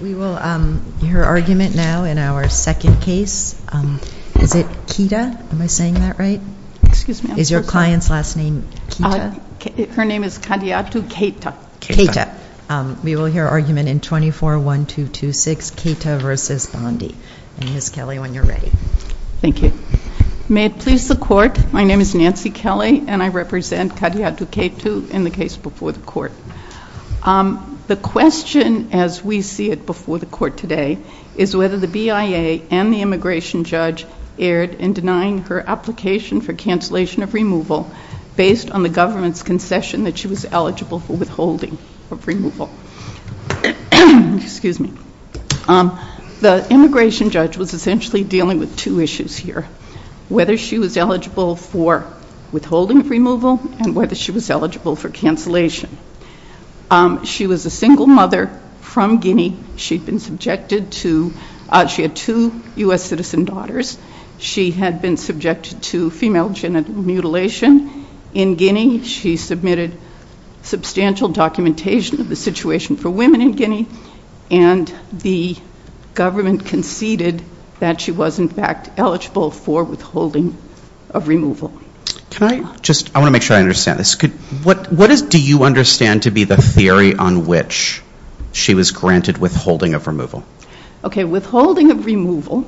We will hear argument now in our second case. Is it Keita? Am I saying that right? Is your client's last name Keita? Her name is Kadiatou Keita. Keita. We will hear argument in 24-1226, Keita v. Bondi. Ms. Kelly, when you're ready. Thank you. May it please the Court, my name is Nancy Kelly, and I represent Kadiatou Keita in the case before the Court. The question, as we see it before the Court today, is whether the BIA and the immigration judge erred in denying her application for cancellation of removal based on the government's concession that she was eligible for withholding of removal. Excuse me. The immigration judge was essentially dealing with two issues here, whether she was eligible for withholding of removal and whether she was eligible for cancellation. She was a single mother from Guinea. She had two U.S. citizen daughters. She had been subjected to female genital mutilation in Guinea. She submitted substantial documentation of the situation for women in Guinea, and the government conceded that she was, in fact, eligible for withholding of removal. I want to make sure I understand this. What do you understand to be the theory on which she was granted withholding of removal? Okay. Withholding of removal,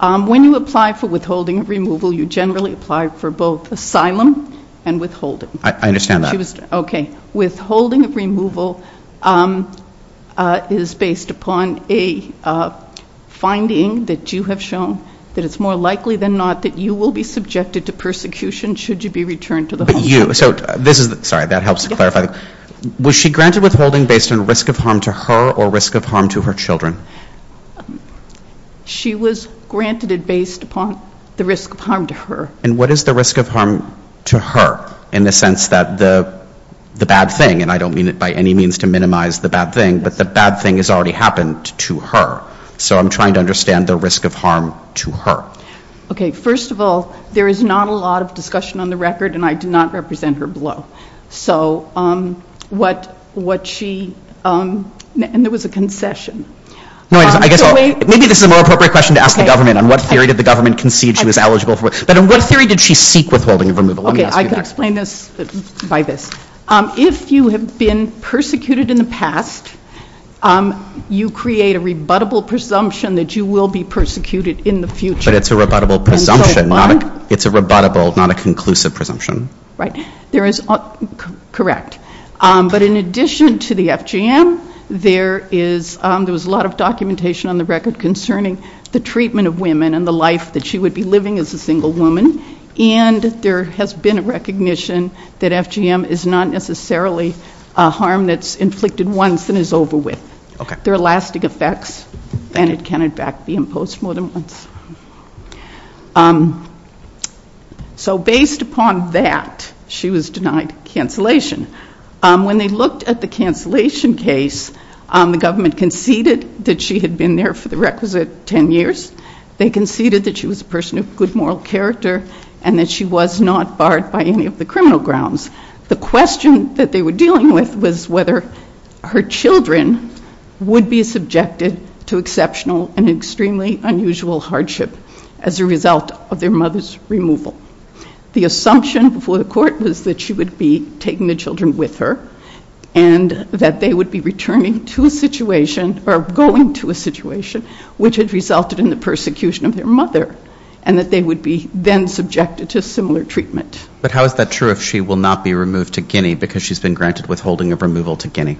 when you apply for withholding of removal, you generally apply for both asylum and withholding. I understand that. Okay. Withholding of removal is based upon a finding that you have shown that it's more likely than not that you will be subjected to persecution should you be returned to the home. But you, so this is, sorry, that helps to clarify. Was she granted withholding based on risk of harm to her or risk of harm to her children? She was granted it based upon the risk of harm to her. And what is the risk of harm to her in the sense that the bad thing, and I don't mean it by any means to minimize the bad thing, but the bad thing has already happened to her. So I'm trying to understand the risk of harm to her. Okay. First of all, there is not a lot of discussion on the record, and I do not represent her below. So what she, and there was a concession. No, I guess maybe this is a more appropriate question to ask the government. On what theory did the government concede she was eligible for, but on what theory did she seek withholding of removal? Let me ask you that. I can explain this by this. If you have been persecuted in the past, you create a rebuttable presumption that you will be persecuted in the future. But it's a rebuttable presumption. It's a rebuttable, not a conclusive presumption. Right. There is, correct. But in addition to the FGM, there is, there was a lot of documentation on the record concerning the treatment of women and the life that she would be living as a single woman. And there has been a recognition that FGM is not necessarily a harm that's inflicted once and is over with. There are lasting effects, and it can, in fact, be imposed more than once. So based upon that, she was denied cancellation. When they looked at the cancellation case, the government conceded that she had been there for the requisite 10 years. They conceded that she was a person of good moral character and that she was not barred by any of the criminal grounds. The question that they were dealing with was whether her children would be subjected to exceptional and extremely unusual hardship as a result of their mother's removal. The assumption before the court was that she would be taking the children with her and that they would be returning to a situation or going to a situation which had resulted in the persecution of their mother and that they would be then subjected to similar treatment. But how is that true if she will not be removed to Guinea because she's been granted withholding of removal to Guinea?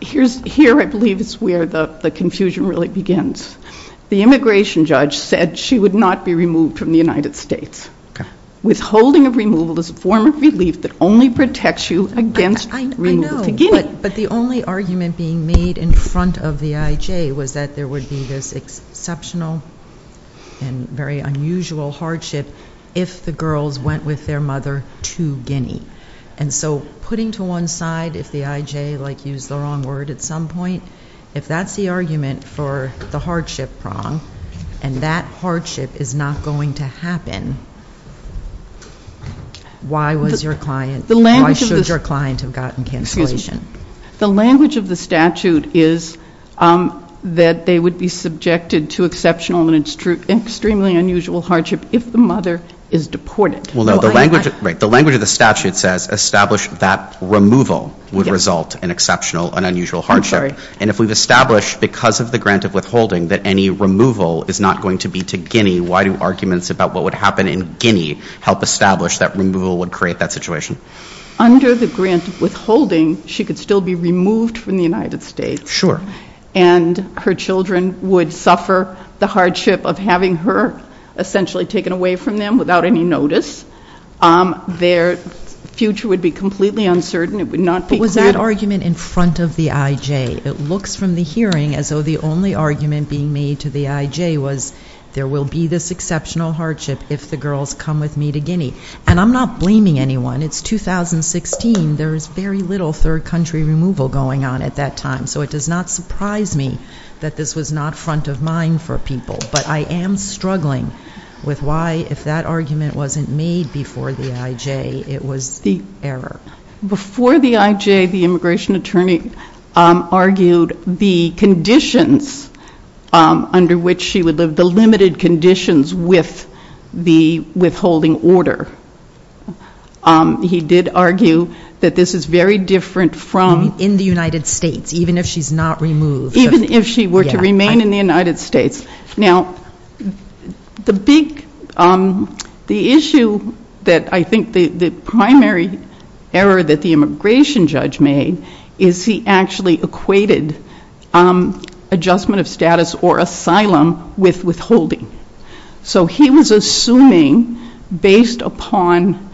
Here, I believe, is where the confusion really begins. The immigration judge said she would not be removed from the United States. Withholding of removal is a form of relief that only protects you against removal to Guinea. But the only argument being made in front of the I.J. was that there would be this exceptional and very unusual hardship if the girls went with their mother to Guinea. And so putting to one side, if the I.J. like used the wrong word at some point, if that's the argument for the hardship prong and that hardship is not going to happen, why was your client, why should your client have gotten cancellation? The language of the statute is that they would be subjected to exceptional and extremely unusual hardship if the mother is deported. Well, no, the language of the statute says establish that removal would result in exceptional and unusual hardship. And if we've established because of the grant of withholding that any removal is not going to be to Guinea, why do arguments about what would happen in Guinea help establish that removal would create that situation? Under the grant of withholding, she could still be removed from the United States. And her children would suffer the hardship of having her essentially taken away from them without any notice. Their future would be completely uncertain. It would not be clear. But was that argument in front of the I.J.? It looks from the hearing as though the only argument being made to the I.J. was there will be this exceptional hardship if the girls come with me to Guinea. And I'm not blaming anyone. It's 2016. There is very little third country removal going on at that time. So it does not surprise me that this was not front of mind for people. But I am struggling with why, if that argument wasn't made before the I.J., it was error. Before the I.J., the immigration attorney argued the conditions under which she would live, the limited conditions with the withholding order. He did argue that this is very different from... In the United States, even if she's not removed. Even if she were to remain in the United States. Now, the issue that I think the primary error that the immigration judge made is he actually equated adjustment of status or asylum with withholding. So he was assuming, based upon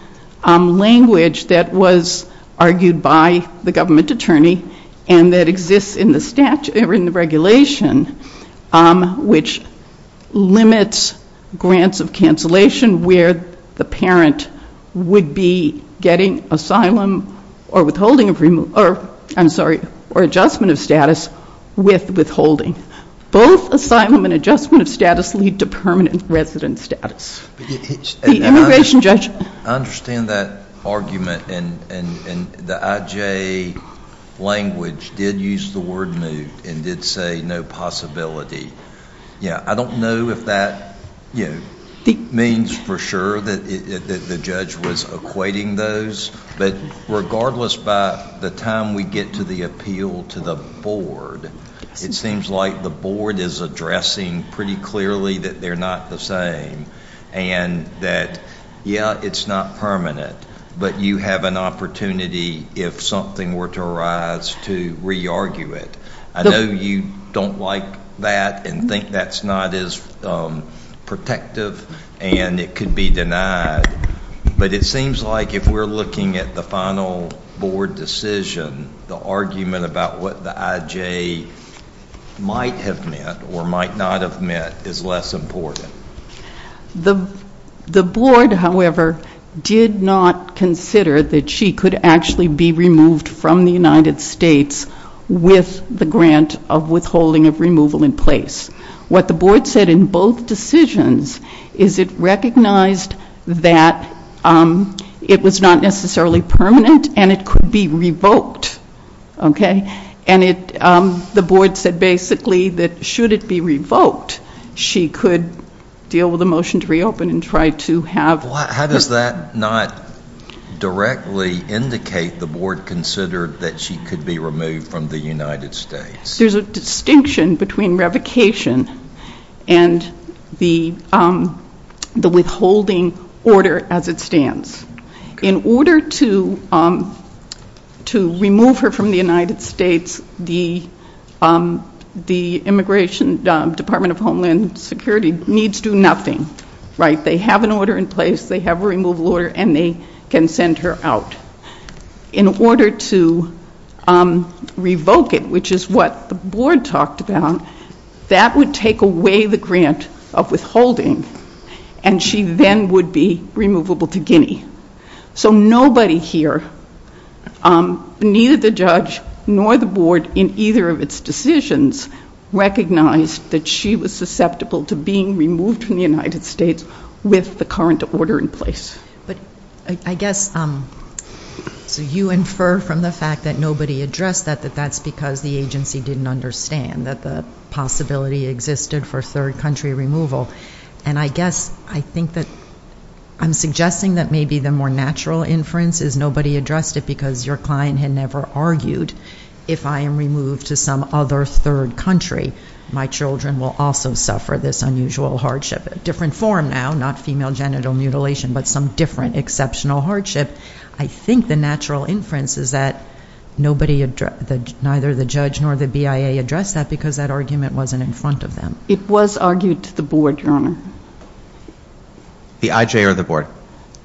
language that was argued by the government attorney and that exists in the regulation, which limits grants of cancellation where the parent would be getting asylum or withholding, I'm sorry, or adjustment of status with withholding. Both asylum and adjustment of status lead to permanent resident status. The immigration judge... I understand that argument. And the I.J. language did use the word moved and did say no possibility. I don't know if that means for sure that the judge was equating those, but regardless by the time we get to the appeal to the board, it seems like the board is addressing pretty clearly that they're not the same and that, yeah, it's not permanent, but you have an opportunity if something were to arise to re-argue it. I know you don't like that and think that's not as protective and it could be denied, but it seems like if we're looking at the final board decision, the argument about what the I.J. might have meant or might not have meant is less important. The board, however, did not consider that she could actually be removed from the United States with the grant of withholding of removal in place. What the board said in both decisions is it recognized that it was not necessarily permanent and it could be revoked. And the board said basically that should it be revoked, she could deal with the motion to reopen and try to have... How does that not directly indicate the board considered that she could be removed from the United States? There's a distinction between revocation and the withholding order as it stands. In order to remove her from the United States, the Immigration Department of Homeland Security needs to do nothing. They have an order in place, they have a removal order, and they can send her out. In order to revoke it, which is what the board talked about, that would take away the grant of withholding and she then would be removable to Guinea. So nobody here, neither the judge nor the board in either of its decisions, recognized that she was susceptible to being removed from the United States with the current order in place. But I guess, so you infer from the fact that nobody addressed that that that's because the agency didn't understand that the possibility existed for third country removal. And I guess I think that I'm suggesting that maybe the more natural inference is nobody addressed it because your client had never argued, if I am removed to some other third country, my children will also suffer this unusual hardship. A different form now, not female genital mutilation, but some different exceptional hardship. I think the natural inference is that nobody, neither the judge nor the BIA addressed that because that argument wasn't in front of them. It was argued to the board, Your Honor. The IJ or the board?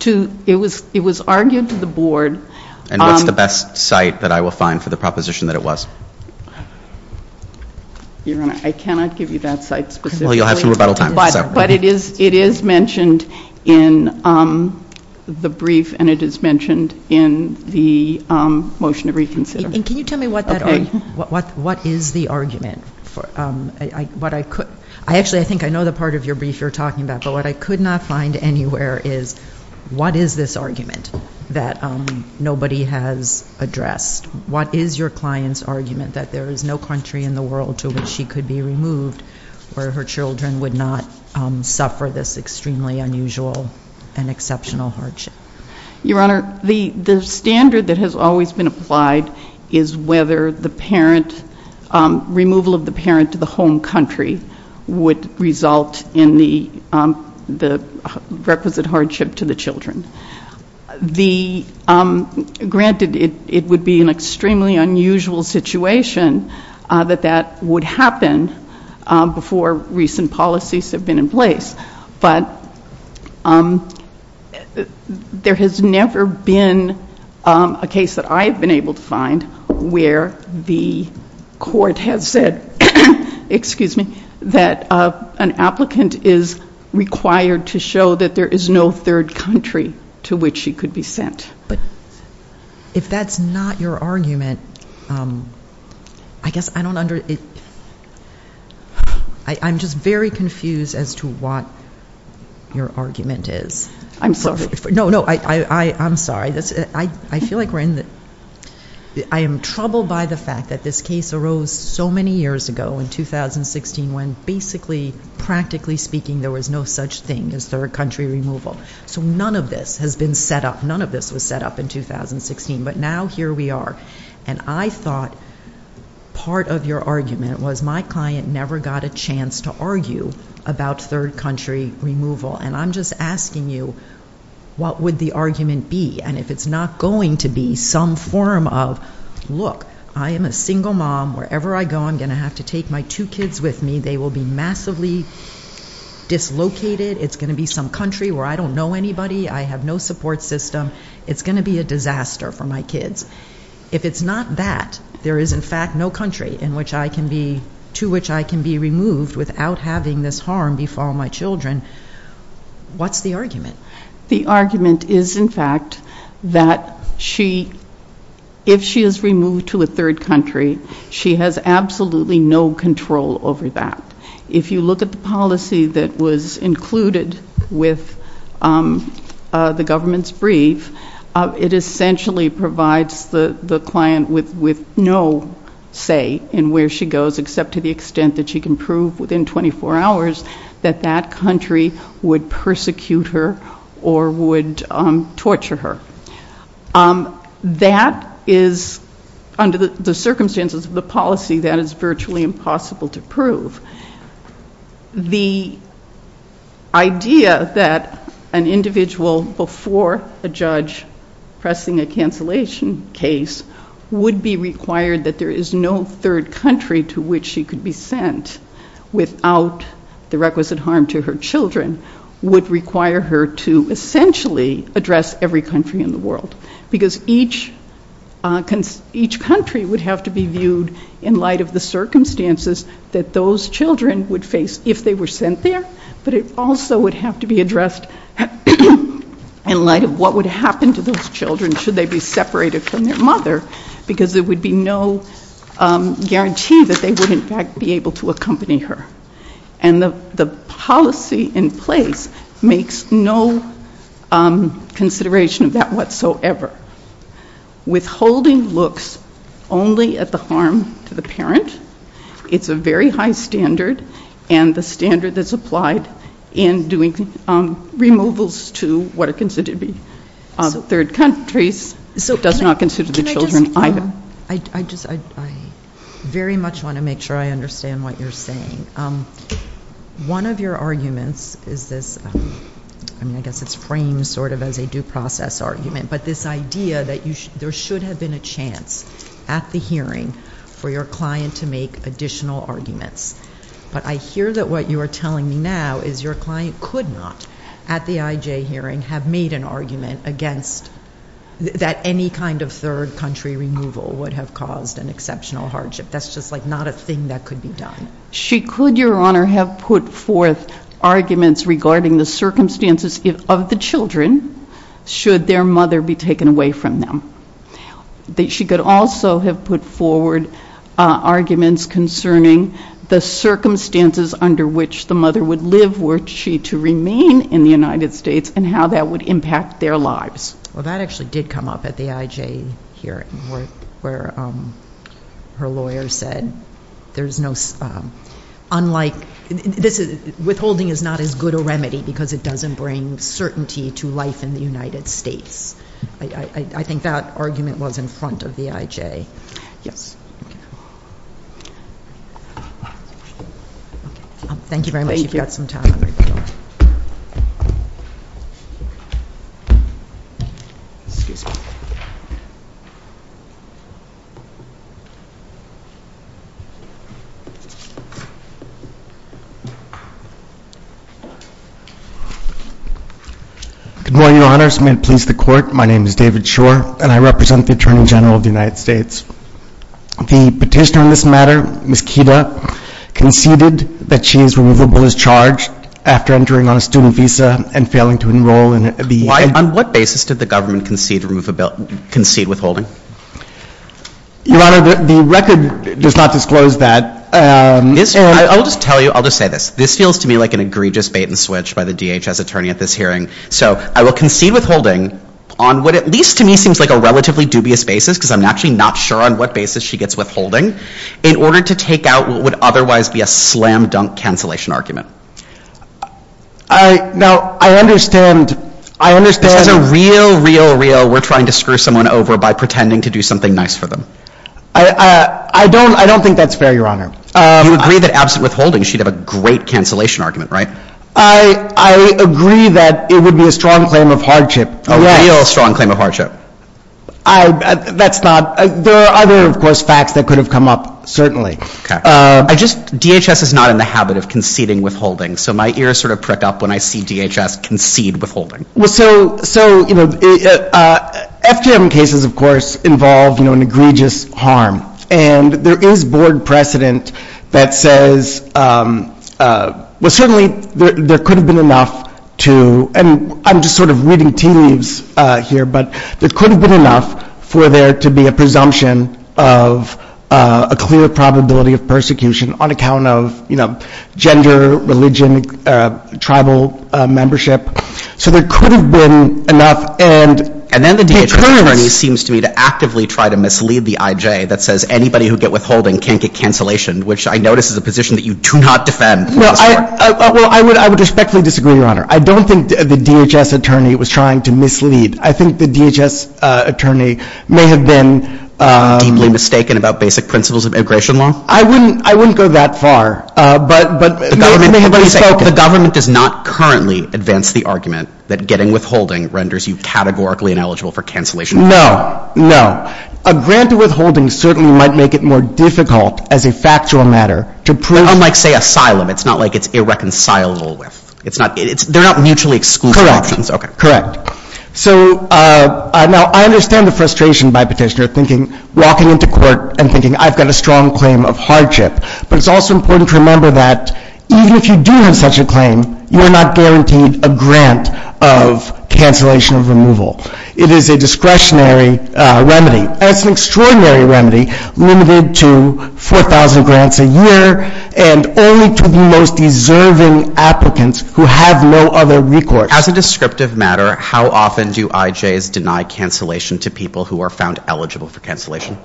It was argued to the board. And what's the best site that I will find for the proposition that it was? Your Honor, I cannot give you that site specifically. Well, you'll have some rebuttal time. But it is mentioned in the brief and it is mentioned in the motion to reconsider. And can you tell me what that argument, what is the argument? Actually, I think I know the part of your brief you're talking about, but what I could not find anywhere is what is this argument that nobody has addressed? What is your client's argument that there is no country in the world to which she could be removed where her children would not suffer this extremely unusual and exceptional hardship? Your Honor, the standard that has always been applied is whether the parent, removal of the parent to the home country would result in the requisite hardship to the children. The, granted, it would be an extremely unusual situation that that would happen before recent policies have been in place. But there has never been a case that I have been able to find where the court has said, excuse me, that an applicant is required to show that there is no third country to which she could be sent. But if that's not your argument, I guess I don't understand. I'm just very confused as to what your argument is. I'm sorry. No, no, I'm sorry. I feel like we're in the, I am troubled by the fact that this case arose so many years ago in 2016 when basically, practically speaking, there was no such thing as third country removal. So none of this has been set up, none of this was set up in 2016. But now here we are. And I thought part of your argument was my client never got a chance to argue about third country removal. And I'm just asking you, what would the argument be? And if it's not going to be some form of, look, I am a single mom. Wherever I go, I'm going to have to take my two kids with me. They will be massively dislocated. It's going to be some country where I don't know anybody. I have no support system. It's going to be a disaster for my kids. If it's not that, there is, in fact, no country to which I can be removed without having this harm befall my children. What's the argument? The argument is, in fact, that if she is removed to a third country, she has absolutely no control over that. If you look at the policy that was included with the government's brief, it essentially provides the client with no say in where she goes, except to the extent that she can prove within 24 hours that that country would persecute her or would torture her. That is, under the circumstances of the policy, that is virtually impossible to prove. The idea that an individual before a judge pressing a cancellation case would be required that there is no third country to which she could be sent without the requisite harm to her children would require her to essentially address every country in the world, because each country would have to be viewed in light of the circumstances that those children would face if they were sent there, but it also would have to be addressed in light of what would happen to those children should they be separated from their mother, because there would be no guarantee that they would, in fact, be able to accompany her. And the policy in place makes no consideration of that whatsoever. Withholding looks only at the harm to the parent. It's a very high standard, and the standard that's applied in doing removals to what are considered to be third countries does not consider the children either. I very much want to make sure I understand what you're saying. One of your arguments is this, I mean, I guess it's framed sort of as a due process argument, but this idea that there should have been a chance at the hearing for your client to make additional arguments, but I hear that what you are telling me now is your client could not, at the IJ hearing, have made an argument against that any kind of third country removal would have caused an exceptional hardship. That's just like not a thing that could be done. She could, Your Honor, have put forth arguments regarding the circumstances of the children should their mother be taken away from them. She could also have put forward arguments concerning the circumstances under which the mother would live were she to remain in the United States and how that would impact their lives. Well, that actually did come up at the IJ hearing where her lawyer said there's no, unlike, withholding is not as good a remedy because it doesn't bring certainty to life in the United States. I think that argument was in front of the IJ. Yes. Thank you very much. You've got some time. Good morning, Your Honor. This may please the Court. My name is David Shore, and I represent the Attorney General of the United States. The petitioner in this matter, Ms. Kida, conceded that she is removable as charged after entering on a student visa and failing to enroll. On what basis did the government concede withholding? Your Honor, the record does not disclose that. I'll just tell you, I'll just say this. This feels to me like an egregious bait-and-switch by the DHS attorney at this hearing. So I will concede withholding on what at least to me seems like a relatively dubious basis, because I'm actually not sure on what basis she gets withholding, in order to take out what would otherwise be a slam-dunk cancellation argument. I — now, I understand — I understand — This is a real, real, real we're trying to screw someone over by pretending to do something nice for them. I don't — I don't think that's fair, Your Honor. You agree that absent withholding, she'd have a great cancellation argument, right? I — I agree that it would be a strong claim of hardship, a real strong claim of hardship. I — that's not — there are other, of course, facts that could have come up, certainly. Okay. I just — DHS is not in the habit of conceding withholding, so my ears sort of prick up when I see DHS concede withholding. Well, so — so, you know, FGM cases, of course, involve, you know, an egregious harm. And there is board precedent that says — well, certainly, there could have been enough to — and I'm just sort of reading tea leaves here, but there could have been enough for there to be a presumption of a clear probability of persecution on account of, you know, gender, religion, tribal membership. So there could have been enough, and — The DHS attorney seems to me to actively try to mislead the I.J. that says anybody who get withholding can't get cancellation, which I notice is a position that you do not defend. Well, I — well, I would — I would respectfully disagree, Your Honor. I don't think the DHS attorney was trying to mislead. I think the DHS attorney may have been — Deeply mistaken about basic principles of immigration law? I wouldn't — I wouldn't go that far. But — but — The government — May have been mistaken. The government does not currently advance the argument that getting withholding renders you categorically ineligible for cancellation. No. No. A grant to withholding certainly might make it more difficult as a factual matter to prove — Unlike, say, asylum. It's not like it's irreconcilable with. It's not — it's — they're not mutually exclusive options. Okay. Correct. So, now, I understand the frustration by petitioner thinking — walking into court and thinking, I've got a strong claim of hardship. But it's also important to remember that even if you do have such a claim, you are not guaranteed a grant of cancellation of removal. It is a discretionary remedy. And it's an extraordinary remedy limited to 4,000 grants a year and only to the most deserving applicants who have no other recourse. As a descriptive matter, how often do IJs deny cancellation to people who are found eligible for cancellation?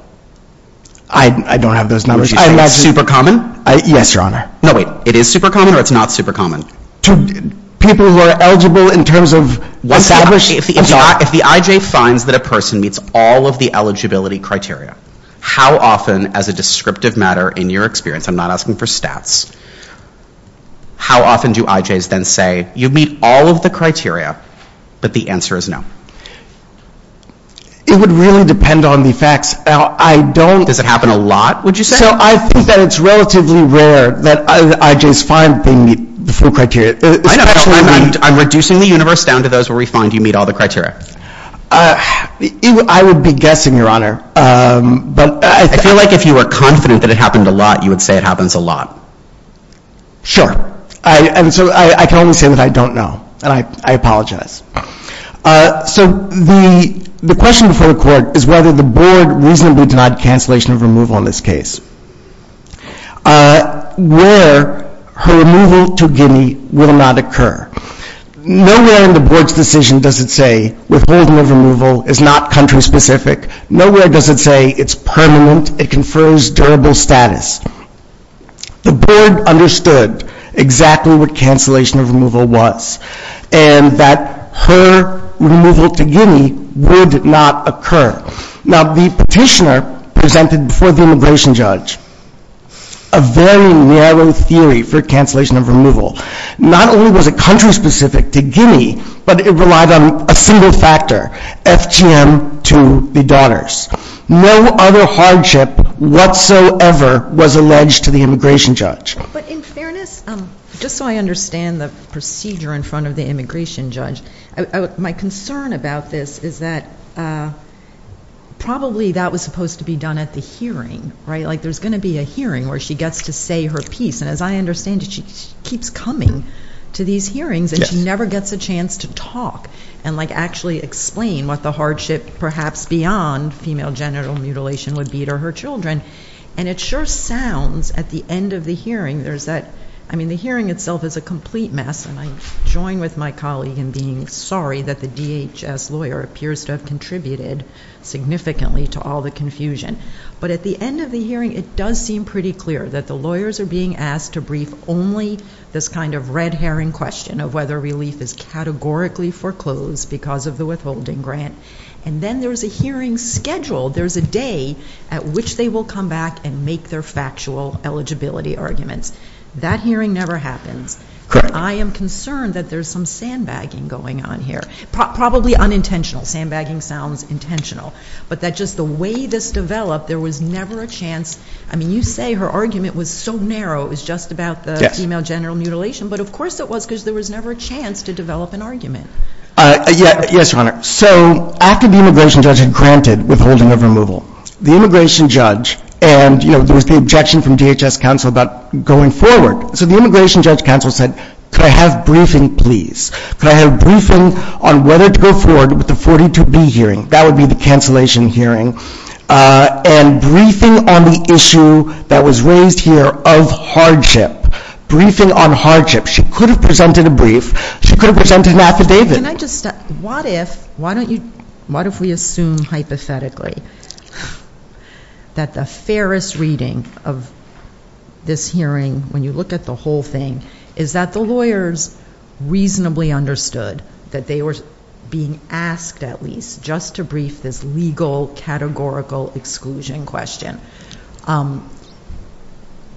I — I don't have those numbers. You're just saying it's super common? Yes, Your Honor. No, wait. It is super common or it's not super common? To people who are eligible in terms of establishing — If the IJ finds that a person meets all of the eligibility criteria, how often, as a descriptive matter, in your experience — I'm not asking for stats — how often do IJs then say, you meet all of the criteria, but the answer is no? It would really depend on the facts. Now, I don't — Does it happen a lot, would you say? So I think that it's relatively rare that IJs find they meet the full criteria. I know. I'm reducing the universe down to those where we find you meet all the criteria. I would be guessing, Your Honor. I feel like if you were confident that it happened a lot, you would say it happens a lot. Sure. And so I can only say that I don't know. And I apologize. So the question before the Court is whether the Board reasonably denied cancellation of removal in this case. Where her removal to Guinea will not occur. Nowhere in the Board's decision does it say withholding of removal is not country-specific. Nowhere does it say it's permanent, it confers durable status. The Board understood exactly what cancellation of removal was, and that her removal to Guinea would not occur. Now, the petitioner presented before the immigration judge a very narrow theory for cancellation of removal. Not only was it country-specific to Guinea, but it relied on a single factor, FGM to the daughters. No other hardship whatsoever was alleged to the immigration judge. But in fairness, just so I understand the procedure in front of the immigration judge, my concern about this is that probably that was supposed to be done at the hearing, right? Like there's going to be a hearing where she gets to say her piece, and as I understand it, she keeps coming to these hearings, and she never gets a chance to talk and like actually explain what the hardship perhaps beyond female genital mutilation would be to her children. And it sure sounds at the end of the hearing, there's that, I mean the hearing itself is a complete mess, and I join with my colleague in being sorry that the DHS lawyer appears to have contributed significantly to all the confusion. But at the end of the hearing, it does seem pretty clear that the lawyers are being asked to brief only this kind of red herring question of whether relief is categorically foreclosed because of the withholding grant. And then there's a hearing scheduled. There's a day at which they will come back and make their factual eligibility arguments. That hearing never happens. Correct. I am concerned that there's some sandbagging going on here. Probably unintentional. Sandbagging sounds intentional. But that just the way this developed, there was never a chance. I mean you say her argument was so narrow, it was just about the female genital mutilation, but of course it was because there was never a chance to develop an argument. Yes, Your Honor. So after the immigration judge had granted withholding of removal, the immigration judge and, you know, there was the objection from DHS counsel about going forward. So the immigration judge counsel said, could I have briefing please? Could I have briefing on whether to go forward with the 42B hearing? That would be the cancellation hearing. And briefing on the issue that was raised here of hardship. Briefing on hardship. She could have presented a brief. She could have presented an affidavit. Can I just, what if, why don't you, what if we assume hypothetically that the fairest reading of this hearing, when you look at the whole thing, is that the lawyers reasonably understood that they were being asked at least just to brief this legal categorical exclusion question.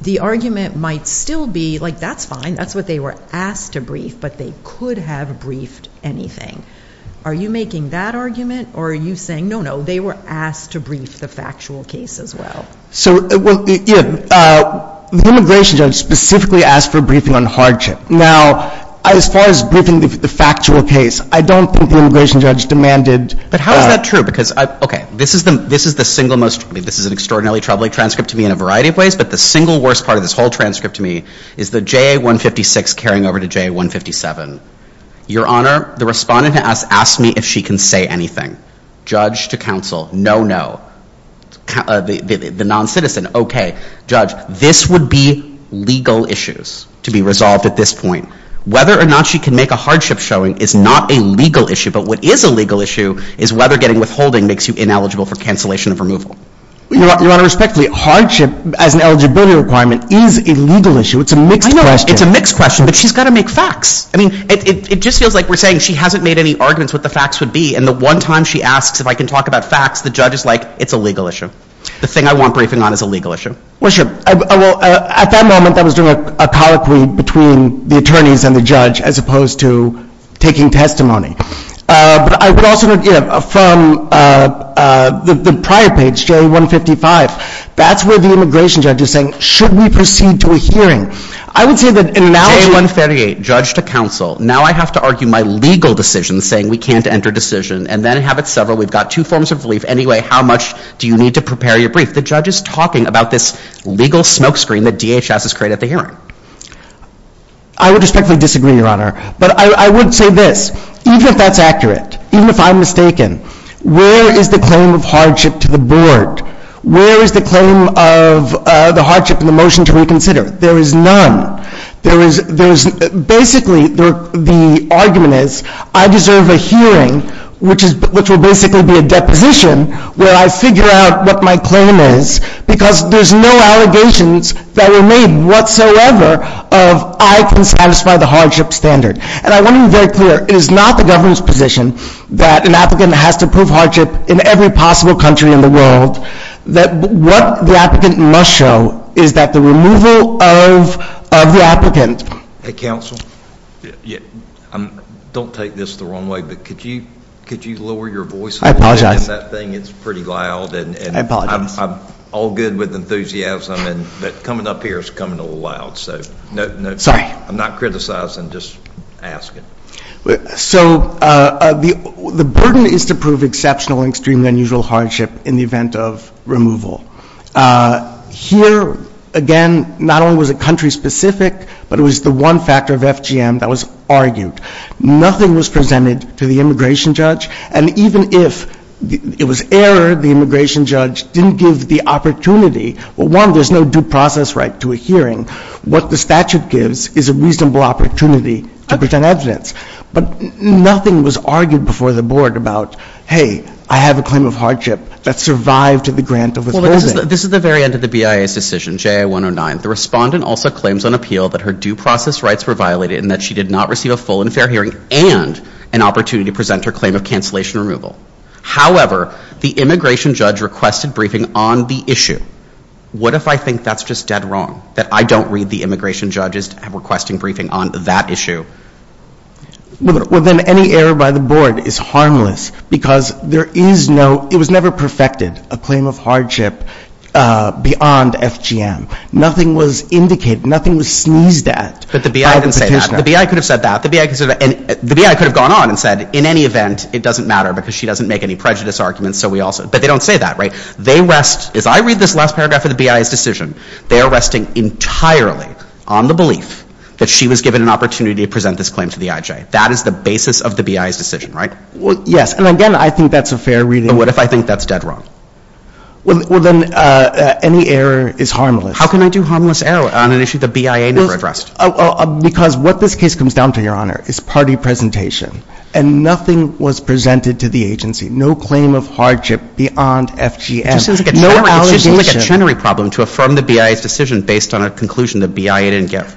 The argument might still be, like, that's fine. That's what they were asked to brief, but they could have briefed anything. Are you making that argument or are you saying, no, no, they were asked to brief the factual case as well? So, well, you know, the immigration judge specifically asked for briefing on hardship. Now, as far as briefing the factual case, I don't think the immigration judge demanded. But how is that true? Because, okay, this is the single most, I mean, this is an extraordinarily troubling transcript to me in a variety of ways, but the single worst part of this whole transcript to me is the JA-156 carrying over to JA-157. Your Honor, the respondent has asked me if she can say anything. Judge to counsel, no, no. The non-citizen, okay. Judge, this would be legal issues to be resolved at this point. Whether or not she can make a hardship showing is not a legal issue, but what is a legal issue is whether getting withholding makes you ineligible for cancellation of removal. Your Honor, respectfully, hardship as an eligibility requirement is a legal issue. It's a mixed question. I know. It's a mixed question, but she's got to make facts. I mean, it just feels like we're saying she hasn't made any arguments what the facts would be, and the one time she asks if I can talk about facts, the judge is like, it's a legal issue. The thing I want briefing on is a legal issue. Well, sure. Well, at that moment, I was doing a colloquy between the attorneys and the judge as opposed to taking testimony. But I would also, you know, from the prior page, JA-155, that's where the immigration judge is saying, should we proceed to a hearing? I would say that in an H-138, judge to counsel, now I have to argue my legal decision saying we can't enter decision, and then have it severed. We've got two forms of relief. Anyway, how much do you need to prepare your brief? The judge is talking about this legal smokescreen that DHS has created at the hearing. I would respectfully disagree, Your Honor. But I would say this. Even if that's accurate, even if I'm mistaken, where is the claim of hardship to the board? Where is the claim of the hardship in the motion to reconsider? There is none. There is, basically, the argument is I deserve a hearing, which will basically be a deposition where I figure out what my claim is, because there's no allegations that were made whatsoever of I can satisfy the hardship standard. And I want to be very clear, it is not the government's position that an applicant has to prove hardship in every possible country in the world. What the applicant must show is that the removal of the applicant. Hey, counsel, don't take this the wrong way, but could you lower your voice a little bit? I apologize. It's pretty loud. I apologize. I'm all good with enthusiasm, but coming up here is coming a little loud. Sorry. I'm not criticizing. Just ask it. So the burden is to prove exceptional and extremely unusual hardship in the event of removal. Here, again, not only was it country-specific, but it was the one factor of FGM that was argued. Nothing was presented to the immigration judge, and even if it was error, the immigration judge didn't give the opportunity. Well, one, there's no due process right to a hearing. What the statute gives is a reasonable opportunity to present evidence. But nothing was argued before the board about, hey, I have a claim of hardship that survived the grant of withholding. Well, this is the very end of the BIA's decision, J.I. 109. The respondent also claims on appeal that her due process rights were violated and that she did not receive a full and fair hearing and an opportunity to present her claim of cancellation removal. However, the immigration judge requested briefing on the issue. What if I think that's just dead wrong, that I don't read the immigration judge's requesting briefing on that issue? Well, then any error by the board is harmless because there is no, it was never perfected, a claim of hardship beyond FGM. Nothing was indicated. Nothing was sneezed at by the petitioner. But the BIA didn't say that. The BIA could have said that. The BIA could have gone on and said, in any event, it doesn't matter because she doesn't make any prejudice arguments, so we also, but they don't say that, right? They rest, as I read this last paragraph of the BIA's decision, they are resting entirely on the belief that she was given an opportunity to present this claim to the IJ. That is the basis of the BIA's decision, right? Well, yes. And again, I think that's a fair reading. But what if I think that's dead wrong? Well, then any error is harmless. How can I do harmless error on an issue the BIA never addressed? Because what this case comes down to, Your Honor, is party presentation. And nothing was presented to the agency. No claim of hardship beyond FGM. It just seems like a tenory problem to affirm the BIA's decision based on a conclusion the BIA didn't give.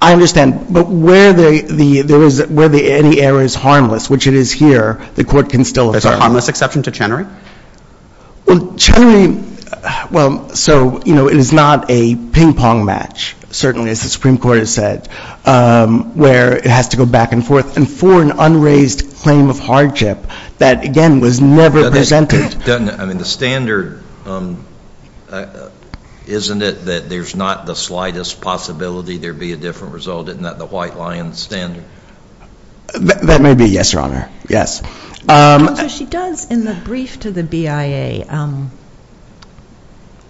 I understand. But where there is, where any error is harmless, which it is here, the court can still affirm. There's a harmless exception to Chenery? Well, Chenery, well, so, you know, it is not a ping-pong match, certainly as the Supreme Court has said, where it has to go back and forth. And for an unraised claim of hardship that, again, was never presented. I mean, the standard, isn't it that there's not the slightest possibility there'd be a different result in that case? Isn't that the white lion standard? That may be, yes, Your Honor. Yes. And so she does, in the brief to the BIA,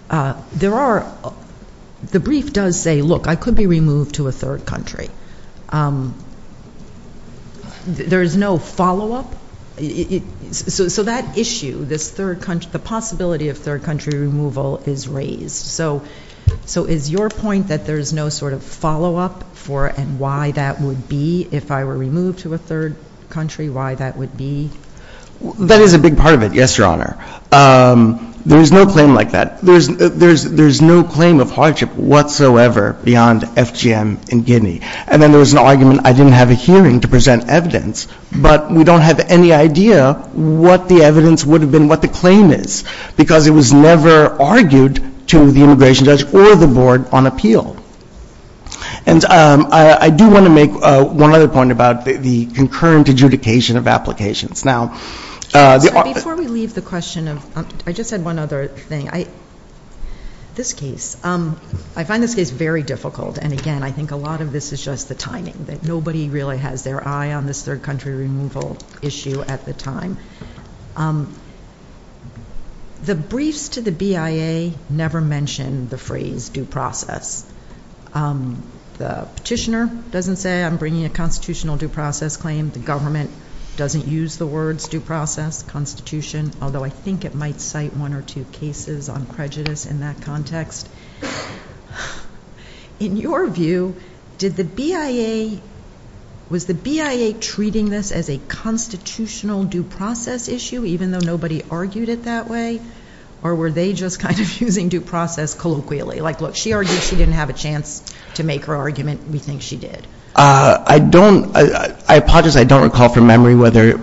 there are, the brief does say, look, I could be removed to a third country. There is no follow-up. So that issue, this third country, the possibility of third country removal is raised. So is your point that there is no sort of follow-up for and why that would be, if I were removed to a third country, why that would be? That is a big part of it, yes, Your Honor. There is no claim like that. There is no claim of hardship whatsoever beyond FGM in Guinea. And then there was an argument, I didn't have a hearing to present evidence, but we don't have any idea what the evidence would have been, what the claim is. Because it was never argued to the immigration judge or the board on appeal. And I do want to make one other point about the concurrent adjudication of applications. Now, the... Before we leave the question of, I just had one other thing. This case, I find this case very difficult. And again, I think a lot of this is just the timing, that nobody really has their eye on this third country removal issue at the time. The briefs to the BIA never mentioned the phrase due process. The petitioner doesn't say, I'm bringing a constitutional due process claim. The government doesn't use the words due process, constitution, although I think it might cite one or two cases on prejudice in that context. In your view, did the BIA... Was the BIA treating this as a constitutional due process claim? Was this a due process issue, even though nobody argued it that way? Or were they just kind of using due process colloquially? Like, look, she argued she didn't have a chance to make her argument. We think she did. I don't... I apologize, I don't recall from memory whether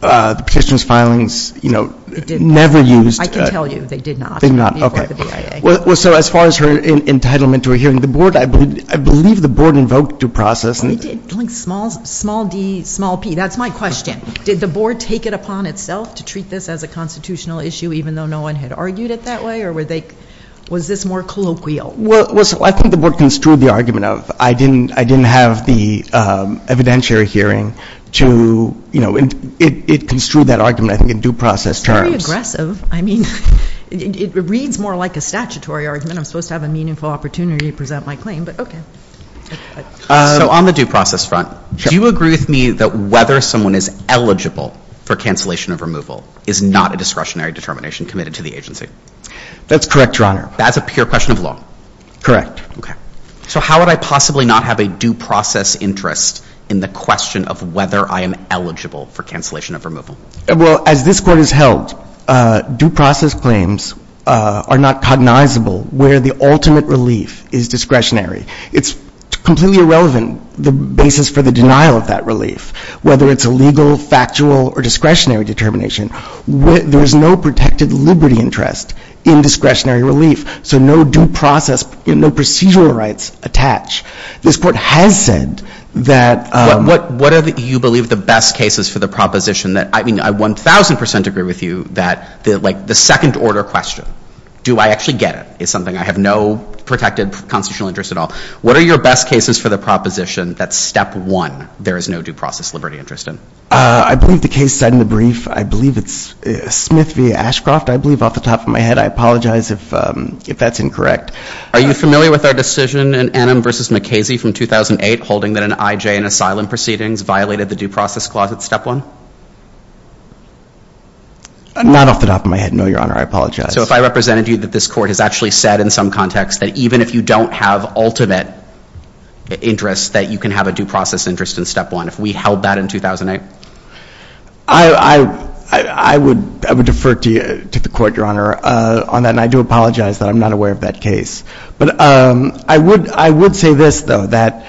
the petitioner's filings, you know, never used... I can tell you, they did not. They did not, okay. Well, so as far as her entitlement to a hearing, the board, I believe the board invoked due process. They did, like, small d, small p. That's my question. Did the board take it upon itself to treat this as a constitutional issue, even though no one had argued it that way? Or were they... Was this more colloquial? Well, I think the board construed the argument of, I didn't have the evidentiary hearing to, you know, it construed that argument, I think, in due process terms. It's very aggressive. I mean, it reads more like a statutory argument. I'm supposed to have a meaningful opportunity to present my claim, but okay. On the due process front, do you agree with me that whether someone is eligible for cancellation of removal is not a discretionary determination committed to the agency? That's correct, Your Honor. That's a pure question of law? Correct. Okay. So how would I possibly not have a due process interest in the question of whether I am eligible for cancellation of removal? Well, as this Court has held, due process claims are not cognizable where the ultimate relief is discretionary. It's completely irrelevant the basis for the denial of that relief, whether it's a legal, factual, or discretionary determination. There is no protected liberty interest in discretionary relief, so no due process, no procedural rights attach. This Court has said that... What are you believe the best cases for the proposition that, I mean, I 1,000 percent agree with you that the second order question, do I actually get it, is something I have no protected What are your best cases for the proposition that, Step 1, there is no due process liberty interest in? I believe the case cited in the brief, I believe it's Smith v. Ashcroft, I believe off the top of my head. I apologize if that's incorrect. Are you familiar with our decision in Enum v. McKaysey from 2008 holding that an IJ in asylum proceedings violated the due process clause at Step 1? Not off the top of my head, no, Your Honor, I apologize. So if I represented you that this Court has actually said in some context that interest, that you can have a due process interest in Step 1, if we held that in 2008? I would defer to the Court, Your Honor, on that, and I do apologize that I'm not aware of that case. But I would say this, though, that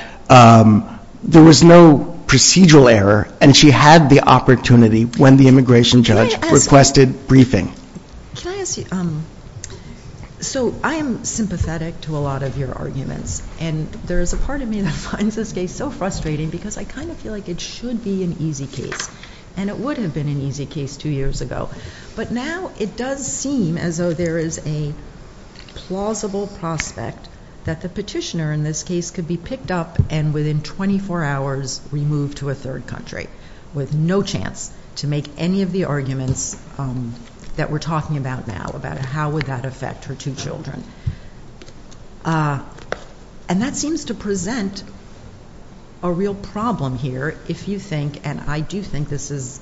there was no procedural error, and she had the opportunity when the immigration judge requested briefing. Can I ask you, so I am sympathetic to a lot of your arguments, and there is a part of me that finds this case so frustrating because I kind of feel like it should be an easy case, and it would have been an easy case two years ago. But now it does seem as though there is a plausible prospect that the petitioner in this case could be picked up and within 24 hours removed to a third country with no chance to make any of the arguments that we're talking about now, about how would that affect her two children. And that seems to present a real problem here, if you think, and I do think this is,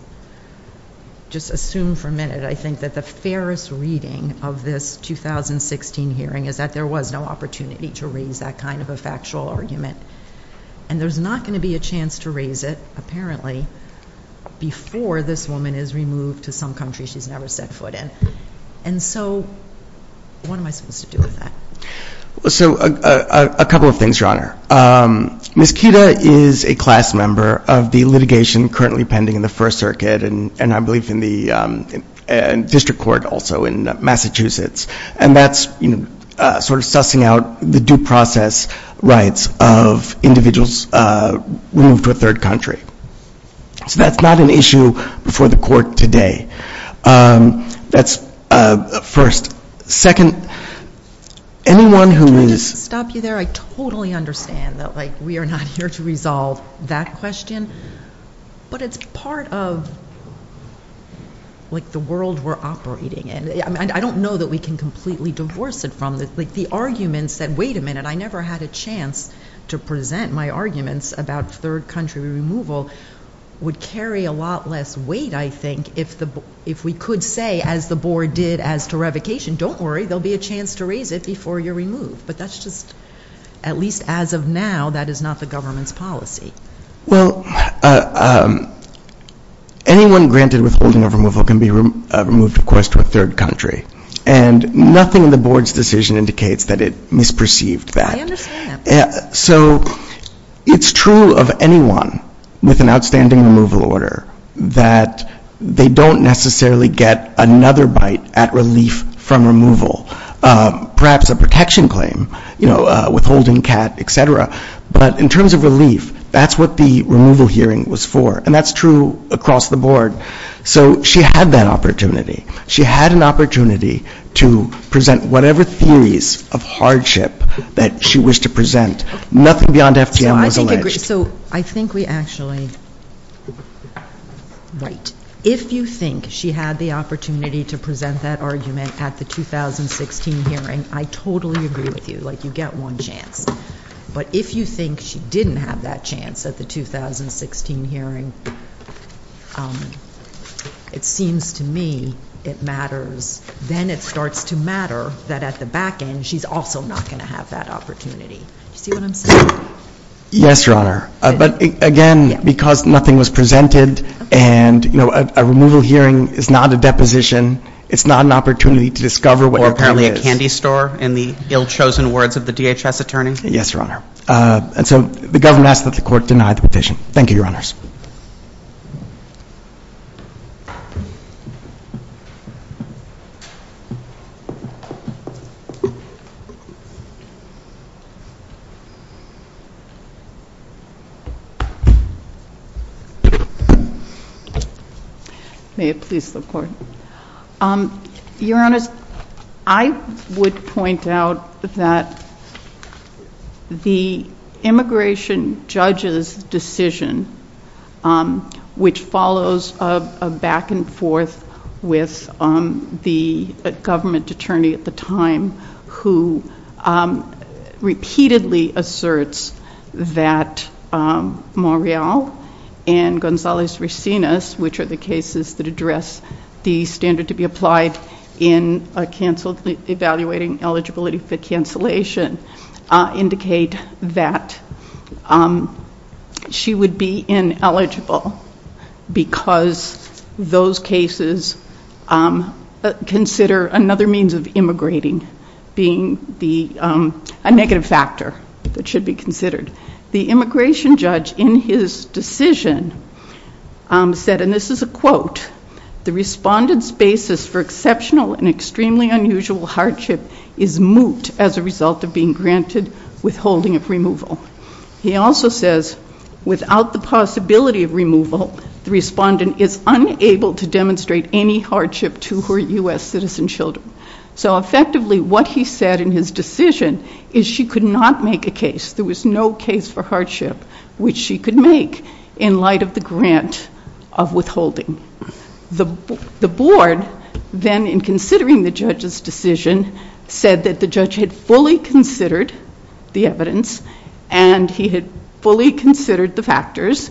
just assume for a minute, I think that the fairest reading of this 2016 hearing is that there was no opportunity to raise that kind of a factual argument, and there's not going to be a chance to raise it, apparently, before this woman is removed to some country she's never set foot in. And so what am I supposed to do with that? So a couple of things, Your Honor. Ms. Kida is a class member of the litigation currently pending in the First Circuit, and I believe in the district court also in Massachusetts, and that's sort of sussing out the due process rights of individuals removed to a third country. So that's not an issue before the court today. That's first. Second, anyone who is... Can I just stop you there? I totally understand that we are not here to resolve that question, but it's part of the world we're operating in. I don't know that we can completely divorce it from this. The arguments that, wait a minute, I never had a chance to present my arguments about third country removal would carry a lot less weight, I think, if we could say, as the Board did as to revocation, don't worry, there will be a chance to raise it before you're removed. But that's just, at least as of now, that is not the government's policy. Well, anyone granted withholding of removal can be removed, of course, to a third country. And nothing in the Board's decision indicates that it misperceived that. I understand that. So it's true of anyone with an outstanding removal order that they don't necessarily get another bite at relief from removal. Perhaps a protection claim, withholding, CAT, et cetera. But in terms of relief, that's what the removal hearing was for. And that's true across the Board. So she had that opportunity. She had an opportunity to present whatever theories of hardship that she wished to present. Nothing beyond FDM was alleged. So I think we actually... Right. If you think she had the opportunity to present that argument at the 2016 hearing, I totally agree with you. Like, you get one chance. But if you think she didn't have that chance at the 2016 hearing, it seems to me it matters. Then it starts to matter that at the back end she's also not going to have that opportunity. Do you see what I'm saying? Yes, Your Honor. Because nothing was presented and a removal hearing is not a deposition. It's not an opportunity to discover what your claim is. Or apparently a candy store in the ill-chosen words of the DHS attorney. Yes, Your Honor. And so the government asked that the court deny the petition. Thank you, Your Honors. May it please the Court. Your Honors, I would point out that the immigration judge's decision, which follows a back and forth with the government attorney at the time who repeatedly asserts that Montréal, and González-Rosinas, which are the cases that address the standard to be applied in a canceled evaluating eligibility for cancellation, indicate that she would be ineligible because those cases consider another means of immigrating being a negative factor that should be considered. The immigration judge in his decision said, and this is a quote, the respondent's basis for exceptional and extremely unusual hardship is moot as a result of being granted withholding of removal. He also says, without the possibility of removal, the respondent is unable to demonstrate any hardship to her U.S. citizen children. So effectively, what he said in his decision is she could not make a case. There was no case for hardship which she could make in light of the grant of withholding. The board then, in considering the judge's decision, said that the judge had fully considered the evidence and he had fully considered the factors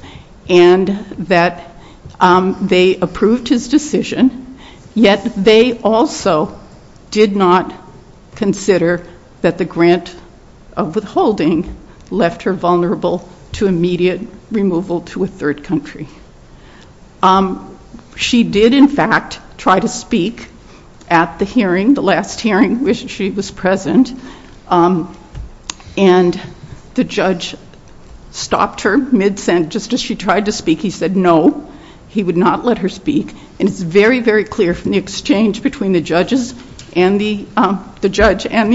and that they approved his decision, yet they also did not consider that the grant of withholding left her vulnerable to immediate removal to a third country. She did, in fact, try to speak at the hearing, the last hearing which she was present, and the judge stopped her midsent just as she tried to speak. He said no, he would not let her speak, and it's very, very clear from the exchange between the judge and the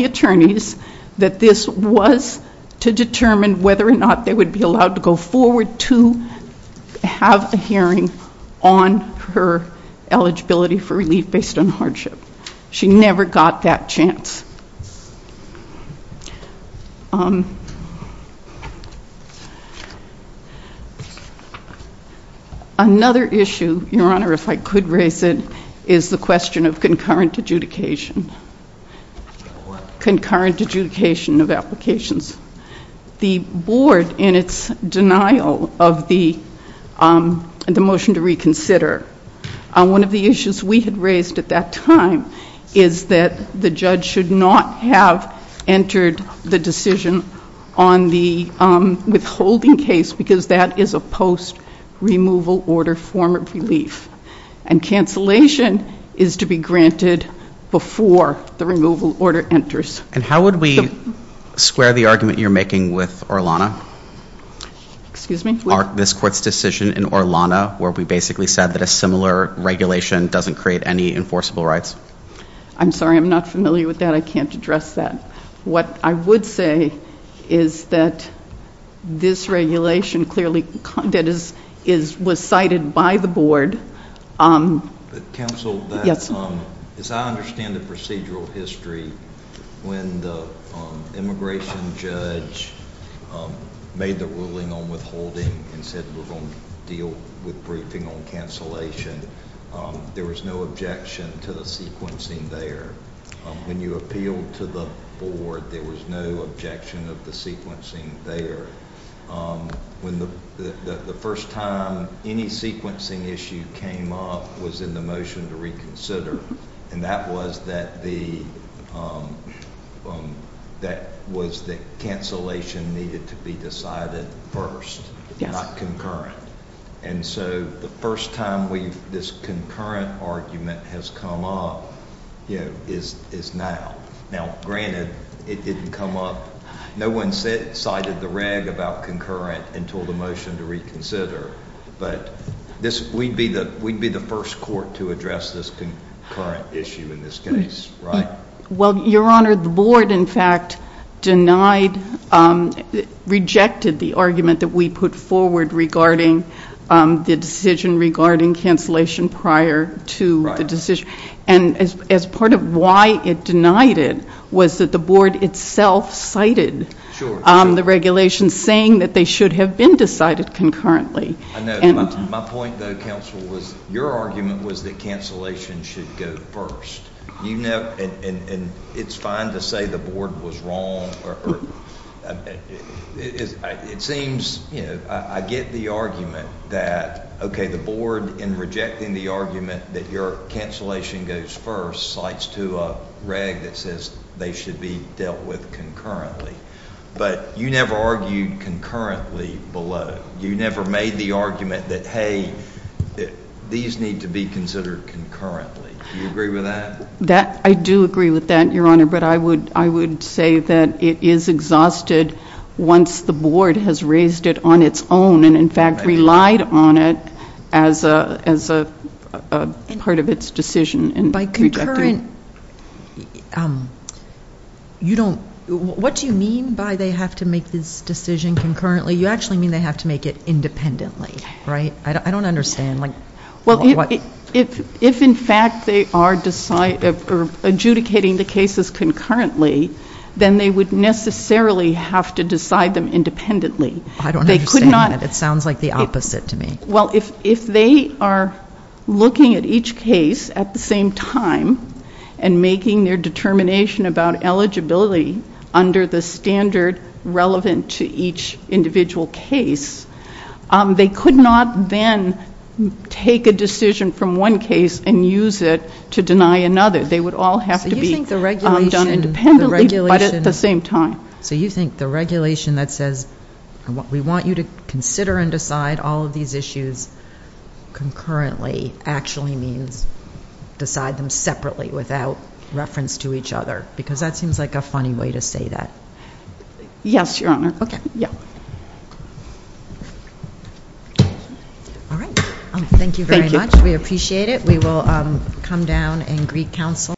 attorneys that he determined whether or not they would be allowed to go forward to have a hearing on her eligibility for relief based on hardship. She never got that chance. Another issue, Your Honor, if I could raise it, is the question of concurrent adjudication, concurrent adjudication of the board in its denial of the motion to reconsider. One of the issues we had raised at that time is that the judge should not have entered the decision on the withholding case because that is a post-removal order form of relief, and cancellation is to be granted before the removal order enters. And how would we square the argument you're making with Orlano? Excuse me? This court's decision in Orlano where we basically said that a similar regulation doesn't create any enforceable rights? I'm sorry, I'm not familiar with that. I can't address that. What I would say is that this regulation clearly was cited by the board. Counsel, as I understand the procedural history, when the immigration judge made the ruling on withholding and said we're going to deal with briefing on cancellation, there was no objection to the sequencing there. When you appealed to the board, there was no objection of the sequencing there. When the first time any sequencing issue came up was in the motion to reconsider, and that was that the, that was the cancellation needed to be decided first, not concurrent. And so the first time this concurrent argument has come up is now. Now, granted, it didn't come up. No one cited the reg about concurrent until the motion to reconsider. But we'd be the first court to address this concurrent issue in this case, right? Well, Your Honor, the board, in fact, rejected the argument that we put forward regarding the decision regarding cancellation prior to the decision. And as part of why it denied it was that the board itself cited the regulation saying that they should have been decided concurrently. I know. My point, though, Counsel, was your argument was that cancellation should go first. And it's fine to say the board was wrong but it seems, you know, I get the argument that, okay, the board in rejecting the argument that your cancellation goes first cites to a reg that says they should be dealt with concurrently. But you never argued concurrently below. You never made the argument that, hey, these need to be considered concurrently. Do you agree with that? I do agree with that, Your Honor, but I would say that once the board has raised it on its own and in fact relied on it as a part of its decision in rejecting it. you don't, what do you mean by they have to make this decision concurrently? You actually mean they have to make it independently, right? I don't understand. Well, if in fact they are adjudicating the cases concurrently then they would necessarily have to decide them independently. I don't understand that. It sounds like the opposite to me. Well, if they are looking at each case at the same time and making their determination about eligibility under the standard relevant to each individual case, they could not then take a decision from one case and use it to deny another. So you think the regulation done independently but at the same time. So you think the regulation that says we want you to consider and decide all of these issues concurrently actually means decide them separately without reference to each other because that seems like a funny way to say that. Yes, Your Honor. Yeah. All right. Thank you very much. Thank you. We appreciate it. We will come down in Greek Council.